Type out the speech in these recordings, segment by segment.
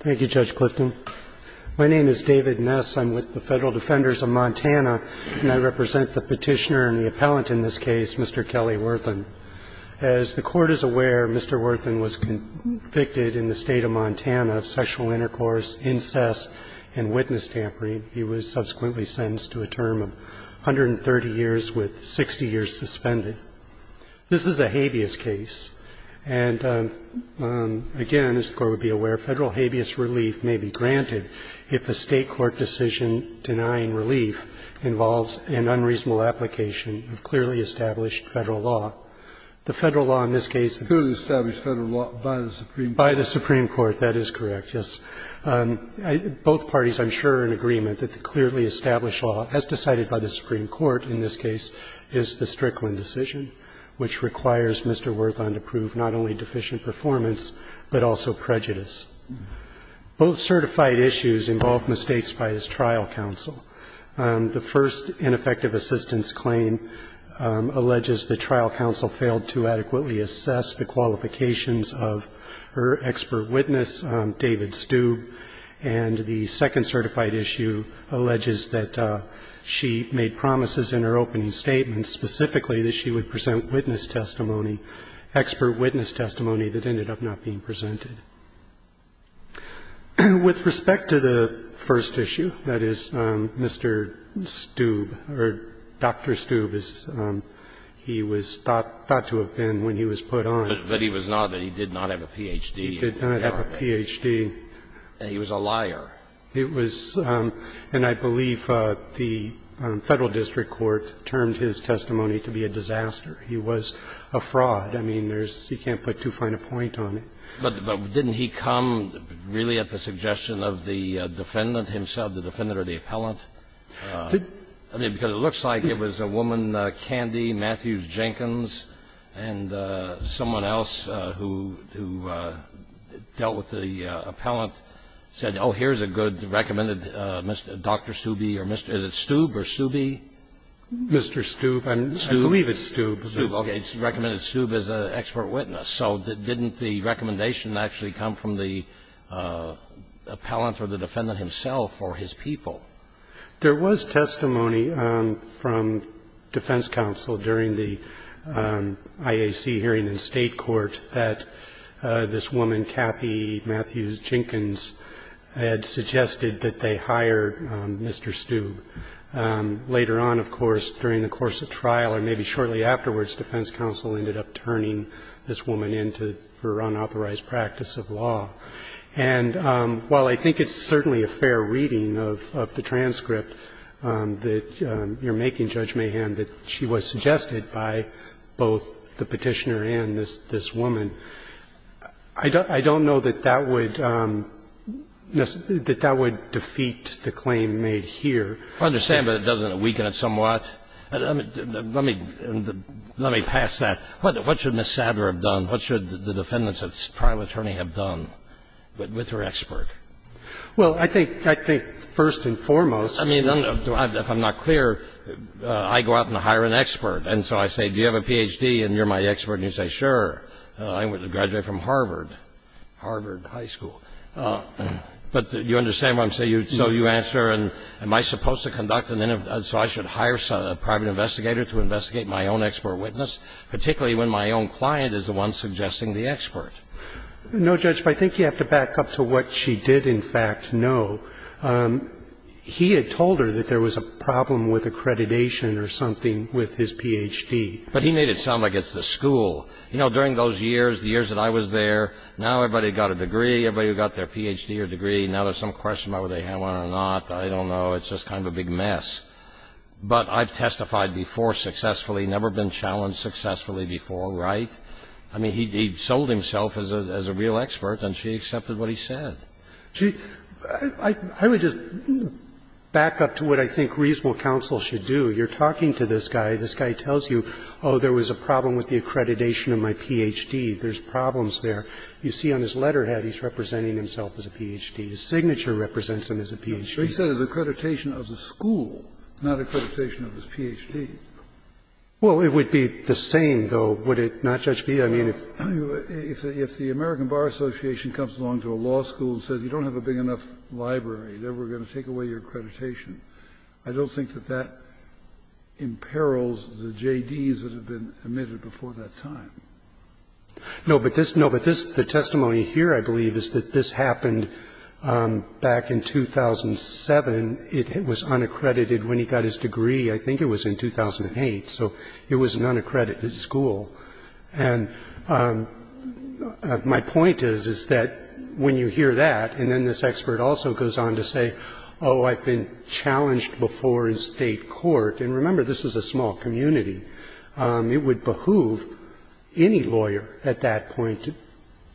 Thank you, Judge Clifton. My name is David Ness. I'm with the Federal Defenders of Montana, and I represent the petitioner and the appellant in this case, Mr. Kelly Worthan. As the Court is aware, Mr. Worthan was convicted in the State of Montana of sexual intercourse, incest, and witness tampering. He was subsequently sentenced to a term of 130 years with 60 years suspended. This is a habeas case. And, again, as the Court would be aware, Federal habeas relief may be granted if a State court decision denying relief involves an unreasonable application of clearly established Federal law. The Federal law in this case is the Strickland decision, which requires Mr. Worthan to prove his innocence. Both parties, I'm sure, are in agreement that the clearly established law, as decided by the Supreme Court in this case, is the Strickland decision, which requires Mr. Worthan to prove not only deficient performance, but also prejudice. Both certified issues involve mistakes by his trial counsel. The first ineffective assistance claim alleges the trial counsel failed to adequately assess the qualifications of her expert witness, David Stube. And the second certified issue alleges that she made promises in her opening statement specifically that she would present witness testimony, expert witness testimony, that ended up not being presented. With respect to the first issue, that is, Mr. Stube, or Dr. Stube, as he was thought to have been when he was put on. But he was not, he did not have a Ph.D. He did not have a Ph.D. And he was a liar. It was and I believe the Federal district court termed his testimony to be a disaster. He was a fraud. I mean, there's, you can't put too fine a point on it. But didn't he come really at the suggestion of the defendant himself, the defendant or the appellant? I mean, because it looks like it was a woman, Candy Matthews Jenkins, and someone else who dealt with the appellant, said, oh, here's a good recommended Dr. Stube or Mr. Stube or Stubey? Mr. Stube. I believe it's Stube. Stube. Okay. It's recommended Stube as an expert witness. So didn't the recommendation actually come from the appellant or the defendant himself or his people? There was testimony from defense counsel during the IAC hearing in State Court that this woman, Cathy Matthews Jenkins, had suggested that they hire Mr. Stube. Later on, of course, during the course of trial or maybe shortly afterwards, defense counsel ended up turning this woman in for unauthorized practice of law. And while I think it's certainly a fair reading of the transcript that you're making, Judge Mayhem, that she was suggested by both the Petitioner and this woman, I don't know that that would defeat the claim made here. I understand, but it doesn't weaken it somewhat. Let me pass that. What should Ms. Sadler have done? What should the defendant's trial attorney have done with her expert? Well, I think first and foremost. I mean, if I'm not clear, I go out and hire an expert. And so I say, do you have a Ph.D.? And you're my expert, and you say, sure. I graduated from Harvard, Harvard High School. But you understand what I'm saying? So you answer, am I supposed to conduct an interview? So I should hire a private investigator to investigate my own expert witness, particularly when my own client is the one suggesting the expert? No, Judge. But I think you have to back up to what she did, in fact, know. He had told her that there was a problem with accreditation or something with his Ph.D. But he made it sound like it's the school. You know, during those years, the years that I was there, now everybody got a degree. Everybody got their Ph.D. or degree. Now there's some question about whether they have one or not. I don't know. It's just kind of a big mess. But I've testified before successfully, never been challenged successfully before, right? I mean, he sold himself as a real expert, and she accepted what he said. She – I would just back up to what I think reasonable counsel should do. You're talking to this guy. This guy tells you, oh, there was a problem with the accreditation of my Ph.D. There's problems there. You see on his letterhead he's representing himself as a Ph.D. His signature represents him as a Ph.D. So he said it was accreditation of the school, not accreditation of his Ph.D. Well, it would be the same, though, would it not, Judge Bee? I mean, if the American Bar Association comes along to a law school and says you don't have a big enough library, they're going to take away your accreditation, I don't think that that imperils the J.D.s that have been admitted before that time. No, but this – no, but this, the testimony here, I believe, is that this happened back in 2007. It was unaccredited when he got his degree. I think it was in 2008. So it was an unaccredited school. And my point is, is that when you hear that, and then this expert also goes on to say, oh, I've been challenged before in State court. And remember, this is a small community. It would behoove any lawyer at that point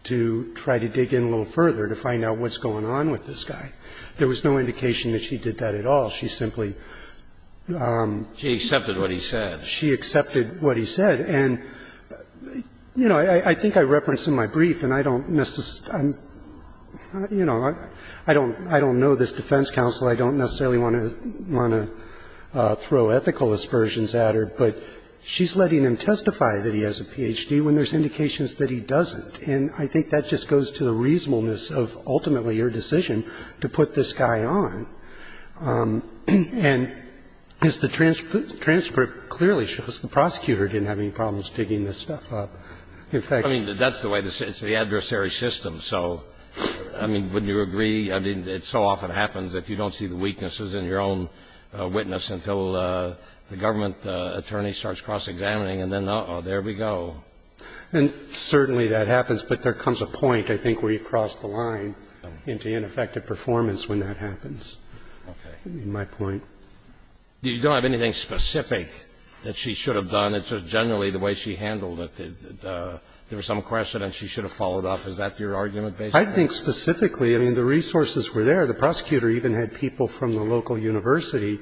to try to dig in a little further to find out what's going on with this guy. There was no indication that she did that at all. She simply – She accepted what he said. She accepted what he said. And, you know, I think I referenced in my brief, and I don't necessarily – you know, I don't know this defense counsel. I don't necessarily want to throw ethical aspersions at her, but she's letting him testify that he has a Ph.D. when there's indications that he doesn't. And I think that just goes to the reasonableness of ultimately your decision to put this guy on. And as the transcript clearly shows, the prosecutor didn't have any problems digging this stuff up. In fact – I mean, that's the way the – it's the adversary system. So, I mean, wouldn't you agree? I mean, it so often happens that you don't see the weaknesses in your own witness until the government attorney starts cross-examining, and then, uh-oh, there we go. And certainly that happens. But there comes a point, I think, where you cross the line into ineffective performance when that happens, in my point. Okay. You don't have anything specific that she should have done. It's just generally the way she handled it, that there was some question and she should have followed up. Is that your argument based on that? I think specifically, I mean, the resources were there. The prosecutor even had people from the local university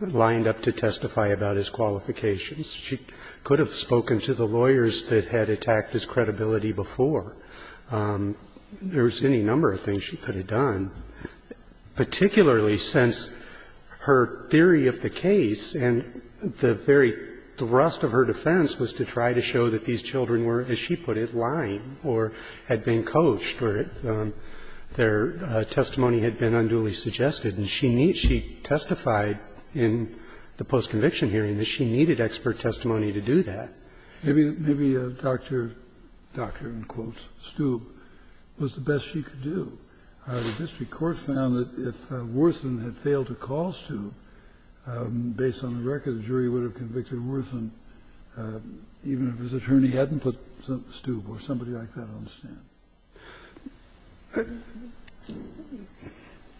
lined up to testify about his qualifications. She could have spoken to the lawyers that had attacked his credibility before. There was any number of things she could have done, particularly since her theory of the case and the very thrust of her defense was to try to show that these children were, as she put it, lying or had been coached or their testimony had been unduly suggested, and she testified in the post-conviction hearing that she needed expert to help her, in quotes, Stube, was the best she could do. The district court found that if Worthen had failed to call Stube, based on the record, the jury would have convicted Worthen even if his attorney hadn't put Stube or somebody like that on the stand.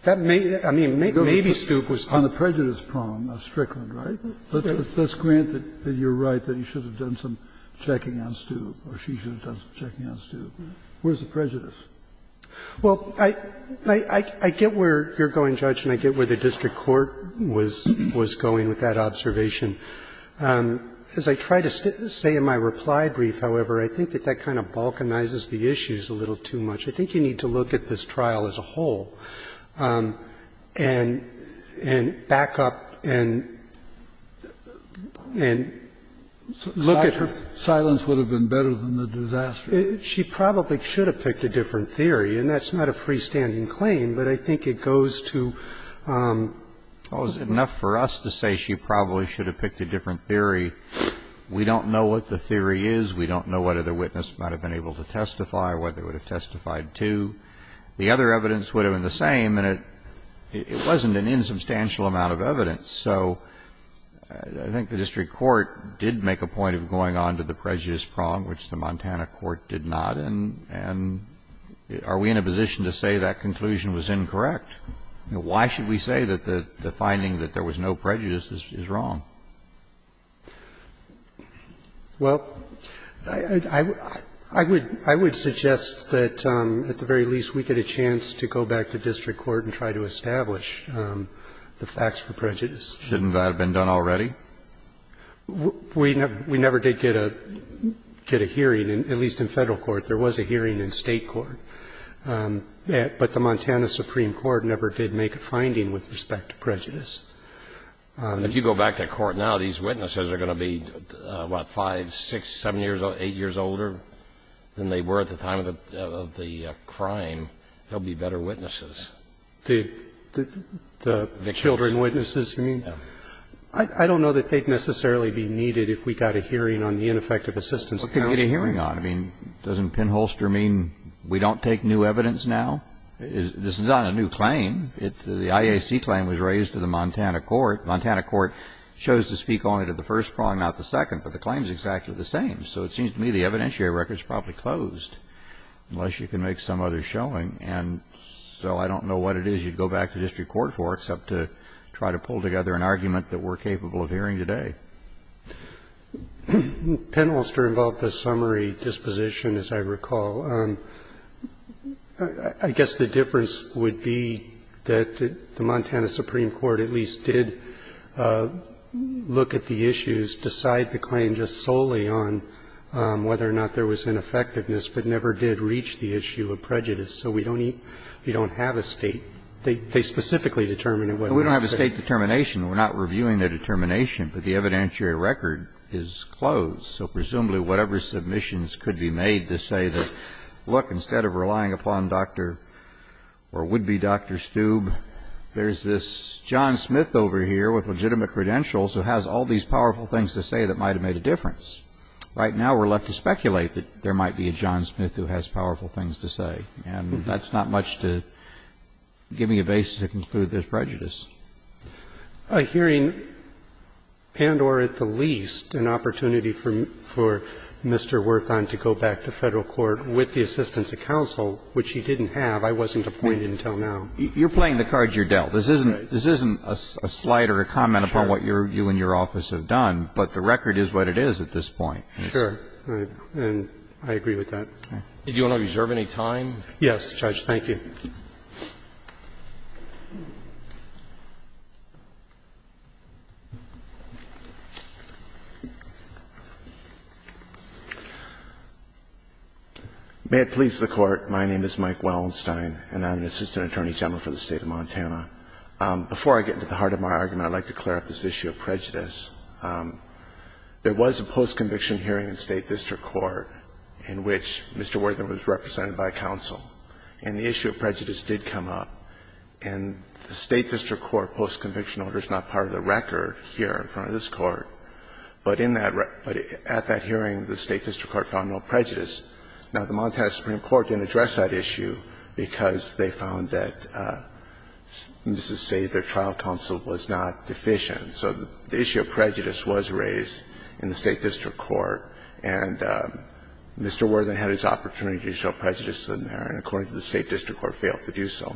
That may be the case. Maybe Stube was too. On the prejudice problem of Strickland, right? Let's grant that you're right, that he should have done some checking on Stube or she should have done some checking on Stube. Where's the prejudice? Well, I get where you're going, Judge, and I get where the district court was going with that observation. As I try to say in my reply brief, however, I think that that kind of balkanizes the issues a little too much. I think you need to look at this trial as a whole and back up and look at her. I think silence would have been better than the disaster. She probably should have picked a different theory, and that's not a freestanding claim, but I think it goes to the point. Well, it's enough for us to say she probably should have picked a different theory. We don't know what the theory is. We don't know whether the witness might have been able to testify or whether they would have testified to. The other evidence would have been the same, and it wasn't an insubstantial amount of evidence. So I think the district court did make a point of going on to the prejudice prong, which the Montana court did not, and are we in a position to say that conclusion was incorrect? Why should we say that the finding that there was no prejudice is wrong? Well, I would suggest that at the very least we get a chance to go back to district court and try to establish the facts for prejudice. Shouldn't that have been done already? We never did get a hearing, at least in Federal court. There was a hearing in State court. But the Montana Supreme Court never did make a finding with respect to prejudice. If you go back to court now, these witnesses are going to be, what, 5, 6, 7 years old, 8 years older than they were at the time of the crime. They'll be better witnesses. The children witnesses? I don't know that they'd necessarily be needed if we got a hearing on the ineffective assistance. What can we get a hearing on? I mean, doesn't pinholster mean we don't take new evidence now? This is not a new claim. The IAC claim was raised to the Montana court. The Montana court chose to speak on it at the first prong, not the second, but the claim is exactly the same. So it seems to me the evidentiary record is probably closed, unless you can make some other showing. And so I don't know what it is you'd go back to district court for, except to try to pull together an argument that we're capable of hearing today. Pinholster involved a summary disposition, as I recall. I guess the difference would be that the Montana Supreme Court at least did look at the issues, decide the claim just solely on whether or not there was ineffectiveness, but never did reach the issue of prejudice. So we don't have a state. They specifically determined it. We don't have a state determination. We're not reviewing the determination, but the evidentiary record is closed. So presumably whatever submissions could be made to say that, look, instead of relying upon Dr. or would-be Dr. Stube, there's this John Smith over here with legitimate credentials who has all these powerful things to say that might have made a difference. Right now we're left to speculate that there might be a John Smith who has powerful things to say. And that's not much to give me a basis to conclude there's prejudice. A hearing and or at the least an opportunity for Mr. Werthon to go back to Federal Court with the assistance of counsel, which he didn't have. I wasn't appointed until now. You're playing the cards you're dealt. This isn't a slide or a comment upon what you and your office have done, but the record is what it is at this point. Sure. And I agree with that. Do you want to reserve any time? Yes, Judge. Thank you. May it please the Court. My name is Mike Wellenstein, and I'm an assistant attorney general for the State of Montana. Before I get into the heart of my argument, I'd like to clear up this issue of prejudice. There was a post-conviction hearing in State District Court in which Mr. Werthon was represented by counsel, and the issue of prejudice did come up. And the State District Court post-conviction order is not part of the record here in front of this Court, but in that at that hearing the State District Court found no prejudice. Now, the Montana Supreme Court didn't address that issue because they found that, let's just say, their trial counsel was not deficient. So the issue of prejudice was raised in the State District Court, and Mr. Werthon had his opportunity to show prejudice in there, and according to the State District Court, failed to do so.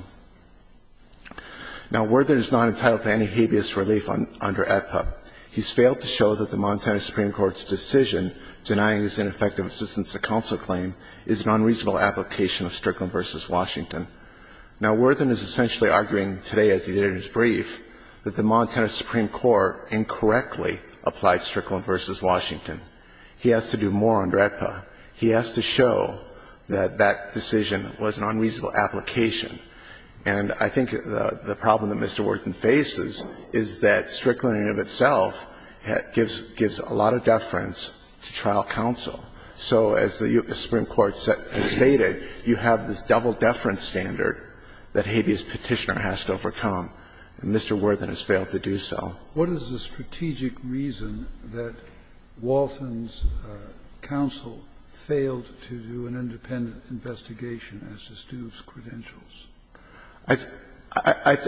Now, Werthon is not entitled to any habeas relief under AEDPA. He's failed to show that the Montana Supreme Court's decision denying his ineffective assistance to counsel claim is an unreasonable application of Strickland v. Washington. Now, Werthon is essentially arguing today, as he did in his brief, that the Montana Supreme Court incorrectly applied Strickland v. Washington. He has to do more under AEDPA. He has to show that that decision was an unreasonable application. And I think the problem that Mr. Werthon faces is that Strickland in and of itself gives a lot of deference to trial counsel. So as the Supreme Court has stated, you have this double deference standard that habeas petitioner has to overcome. Mr. Werthon has failed to do so. Kennedy, what is the strategic reason that Walton's counsel failed to do an independent investigation as to Stube's credentials?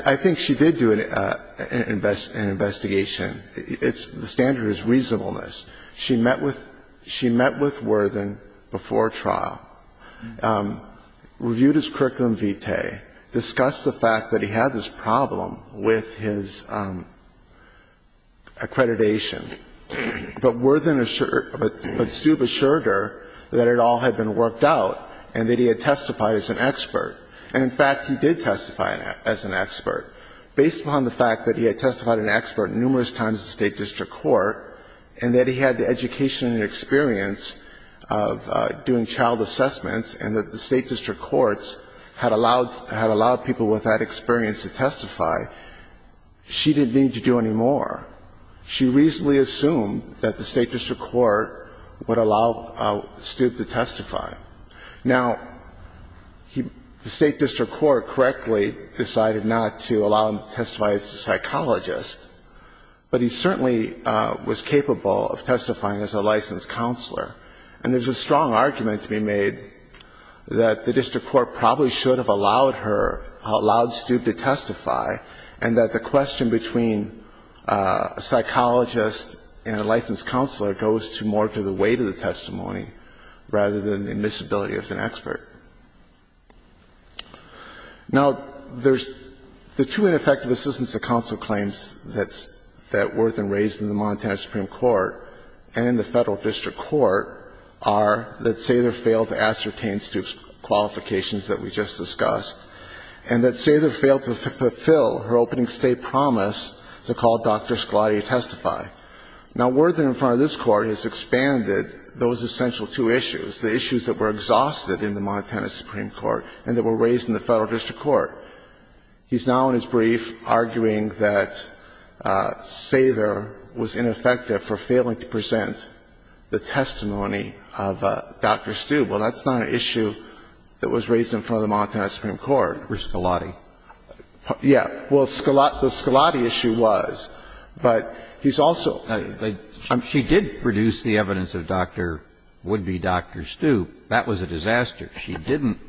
I think she did do an investigation. The standard is reasonableness. She met with Werthon before trial, reviewed his curriculum vitae, discussed the fact that he had this problem with his accreditation. But Werthon assured her that it all had been worked out and that he had testified as an expert. And, in fact, he did testify as an expert, based upon the fact that he had testified as an expert numerous times in the State district court and that he had the education and experience of doing child assessments and that the State district courts had allowed people with that experience to testify. She didn't need to do any more. She reasonably assumed that the State district court would allow Stube to testify. Now, the State district court correctly decided not to allow him to testify as a psychologist, but he certainly was capable of testifying as a licensed counselor. And there's a strong argument to be made that the district court probably should have allowed her, allowed Stube to testify, and that the question between a psychologist and a licensed counselor goes to more to the weight of the testimony, rather than admissibility as an expert. Now, there's the two ineffective assistance of counsel claims that Werthon raised in the Montana Supreme Court and in the Federal District Court are that Sather failed to ascertain Stube's qualifications that we just discussed and that Sather failed to fulfill her opening State promise to call Dr. Scalati to testify. Now, Werthon, in front of this Court, has expanded those essential two issues, the issues that were exhausted in the Montana Supreme Court and that were raised in the Federal District Court. He's now in his brief arguing that Sather was ineffective for failing to present the testimony of Dr. Stube. Well, that's not an issue that was raised in front of the Montana Supreme Court. Roberts. For Scalati. Yeah. Well, Scalati, the Scalati issue was, but he's also the other issue was that Dr. Scalati was ineffective for failing to present the testimony of Dr. Stube. She did produce the evidence of Dr. --"would be Dr. Stube." That was a disaster. She didn't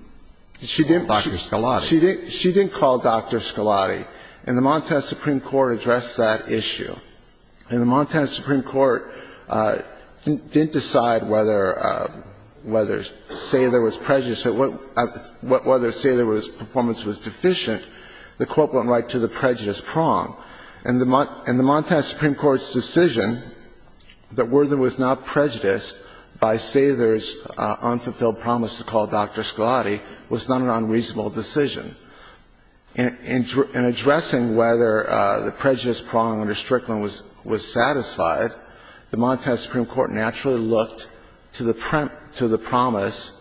call Dr. Scalati. She didn't call Dr. Scalati. And the Montana Supreme Court addressed that issue. And the Montana Supreme Court didn't decide whether Sather was prejudiced or whether Sather's performance was deficient. The Court went right to the prejudice prong. And the Montana Supreme Court's decision that Werthon was not prejudiced by Sather's unfulfilled promise to call Dr. Scalati was not an unreasonable decision. In addressing whether the prejudice prong under Strickland was satisfied, the Montana Supreme Court naturally looked to the premise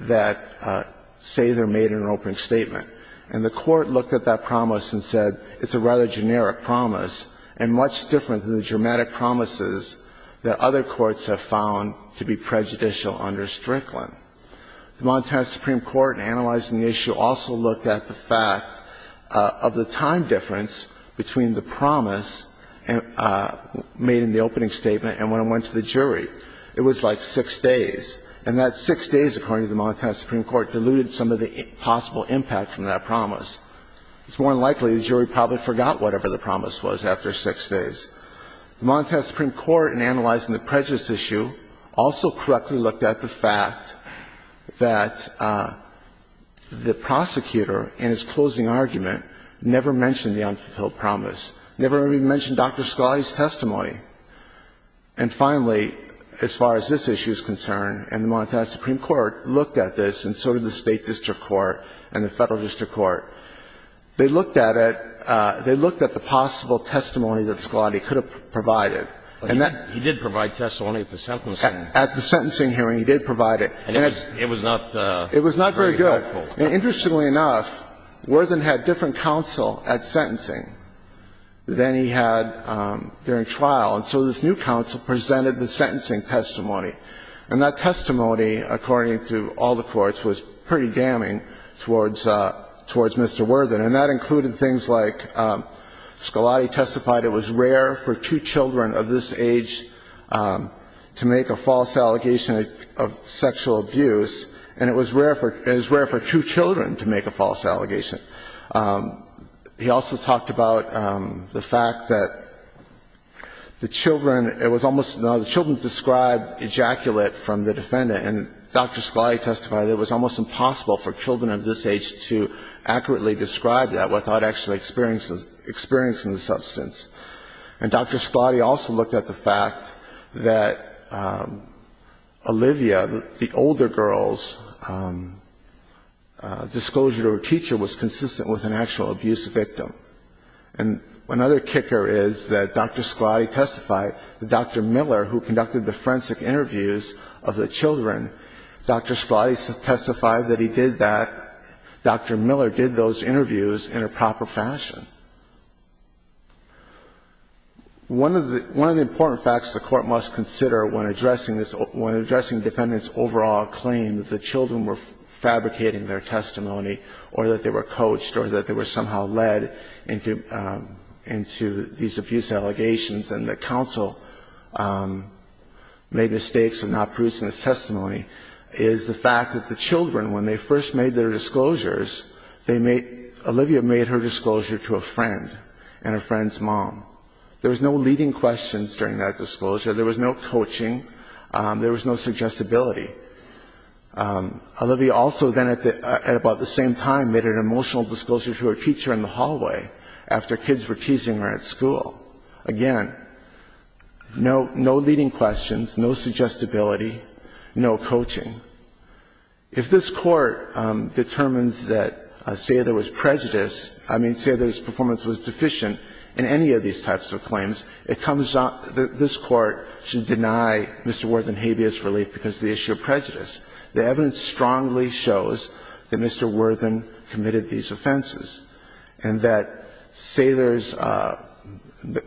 that Sather made an open statement. And the Court looked at that promise and said it's a rather generic promise and much different than the dramatic promises that other courts have found to be prejudicial under Strickland. The Montana Supreme Court, in analyzing the issue, also looked at the fact of the time difference between the promise made in the opening statement and when it went to the jury. It was like six days. And that six days, according to the Montana Supreme Court, diluted some of the possible impact from that promise. It's more than likely the jury probably forgot whatever the promise was after six days. The Montana Supreme Court, in analyzing the prejudice issue, also correctly looked at the fact that the prosecutor in his closing argument never mentioned the unfulfilled promise, never even mentioned Dr. Scalati's testimony. And finally, as far as this issue is concerned, and the Montana Supreme Court looked at this, and so did the State district court and the Federal district court, they looked at it, they looked at the possible testimony that Scalati could have provided. And that he did provide testimony at the sentencing. At the sentencing hearing, he did provide it. And it was not very helpful. It was not very good. Interestingly enough, Worthen had different counsel at sentencing than he had during trial, and so this new counsel presented the sentencing testimony. And that testimony, according to all the courts, was pretty damning towards Mr. Worthen. And that included things like Scalati testified it was rare for two children of this age to make a false allegation of sexual abuse, and it was rare for two children to make a false allegation. He also talked about the fact that the children, it was almost, the children described ejaculate from the defendant, and Dr. Scalati testified it was almost impossible for children of this age to accurately describe that without actually experiencing the substance. And Dr. Scalati also looked at the fact that Olivia, the older girl's disclosure to her teacher was consistent with an actual abuse victim. And another kicker is that Dr. Scalati testified that Dr. Miller, who conducted the forensic interviews of the children, Dr. Scalati testified that he did that, Dr. Miller did those interviews in a proper fashion. One of the important facts the Court must consider when addressing this, when addressing defendants' overall claim that the children were fabricating their testimony or that they were coached or that they were somehow led into these abuse allegations and that counsel made mistakes in not producing this testimony, is the fact that the children, when they first made their disclosures, they made, Olivia made her disclosure to a friend and her friend's mom. There was no leading questions during that disclosure. There was no coaching. There was no suggestibility. Olivia also then at about the same time made an emotional disclosure to her teacher in the hallway after kids were teasing her at school. Again, no leading questions, no suggestibility, no coaching. If this Court determines that Saylor was prejudiced, I mean, Saylor's performance was deficient in any of these types of claims, it comes out that this Court should not be prejudiced. The evidence strongly shows that Mr. Worthen committed these offenses and that Saylor's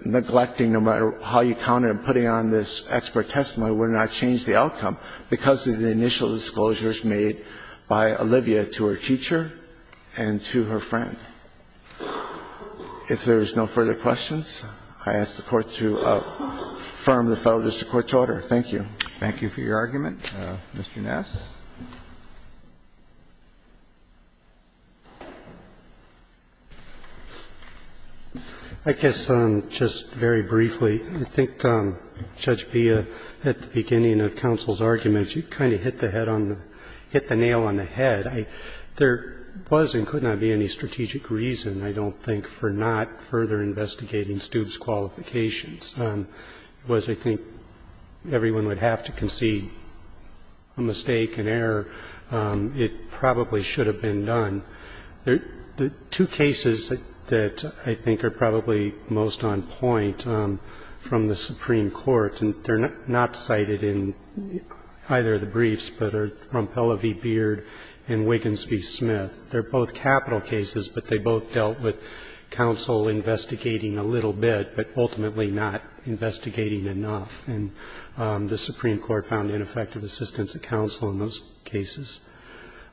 neglecting, no matter how you count it, and putting on this expert testimony would not change the outcome because of the initial disclosures made by Olivia to her teacher and to her friend. If there is no further questions, I ask the Court to affirm the Federal District Court's order. Thank you. Thank you for your argument. Mr. Nass. Nass. I guess just very briefly, I think Judge B, at the beginning of counsel's argument, you kind of hit the head on the ñ hit the nail on the head. There was and could not be any strategic reason, I don't think, for not further investigating Stubbs' qualifications. It was, I think, everyone would have to concede a mistake, an error. It probably should have been done. The two cases that I think are probably most on point from the Supreme Court, and they're not cited in either of the briefs, but are from Pellevey Beard and Wiggins v. Smith. They're both capital cases, but they both dealt with counsel investigating a little bit, but ultimately not investigating enough. And the Supreme Court found ineffective assistance at counsel in those cases.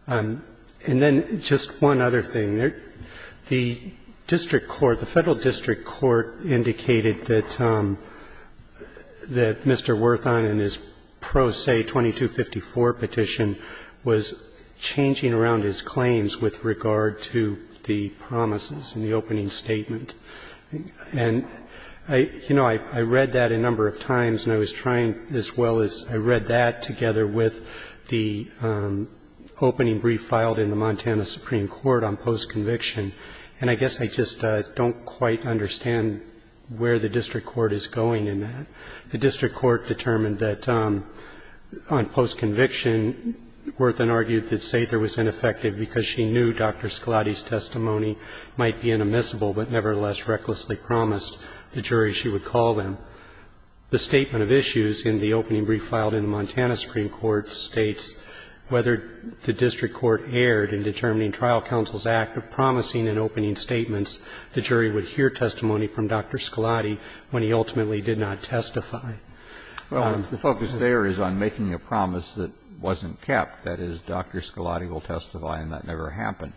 And then just one other thing. The district court, the Federal District Court indicated that Mr. Werthon in his pro se 2254 petition was changing around his claims with regard to the promises in the opening statement. And, you know, I read that a number of times, and I was trying as well as I read that together with the opening brief filed in the Montana Supreme Court on post-conviction. And I guess I just don't quite understand where the district court is going in that. The district court determined that on post-conviction, Werthon argued that Sather was ineffective because she knew Dr. Scalati's testimony might be inadmissible, but nevertheless recklessly promised the jury she would call them. The statement of issues in the opening brief filed in the Montana Supreme Court states whether the district court erred in determining trial counsel's act of promising in opening statements, the jury would hear testimony from Dr. Scalati when he ultimately did not testify. Well, the focus there is on making a promise that wasn't kept, that is, Dr. Scalati will testify and that never happened.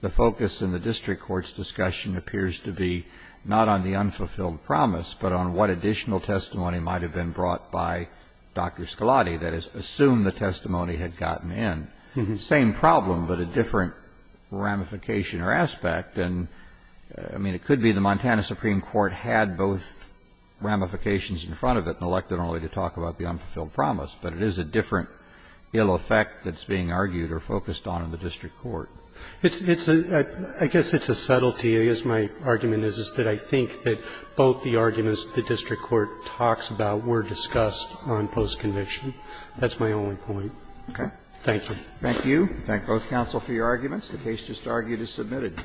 The focus in the district court's discussion appears to be not on the unfulfilled promise, but on what additional testimony might have been brought by Dr. Scalati, that is, assume the testimony had gotten in. Same problem, but a different ramification or aspect. And, I mean, it could be the Montana Supreme Court had both ramifications in front of it and elected only to talk about the unfulfilled promise, but it is a different ill effect that's being argued or focused on in the district court. It's a – I guess it's a subtlety, as my argument is, is that I think that both the arguments the district court talks about were discussed on post-conviction. That's my only point. Okay. Thank you. Thank you. We thank both counsel for your arguments. The case just argued is submitted.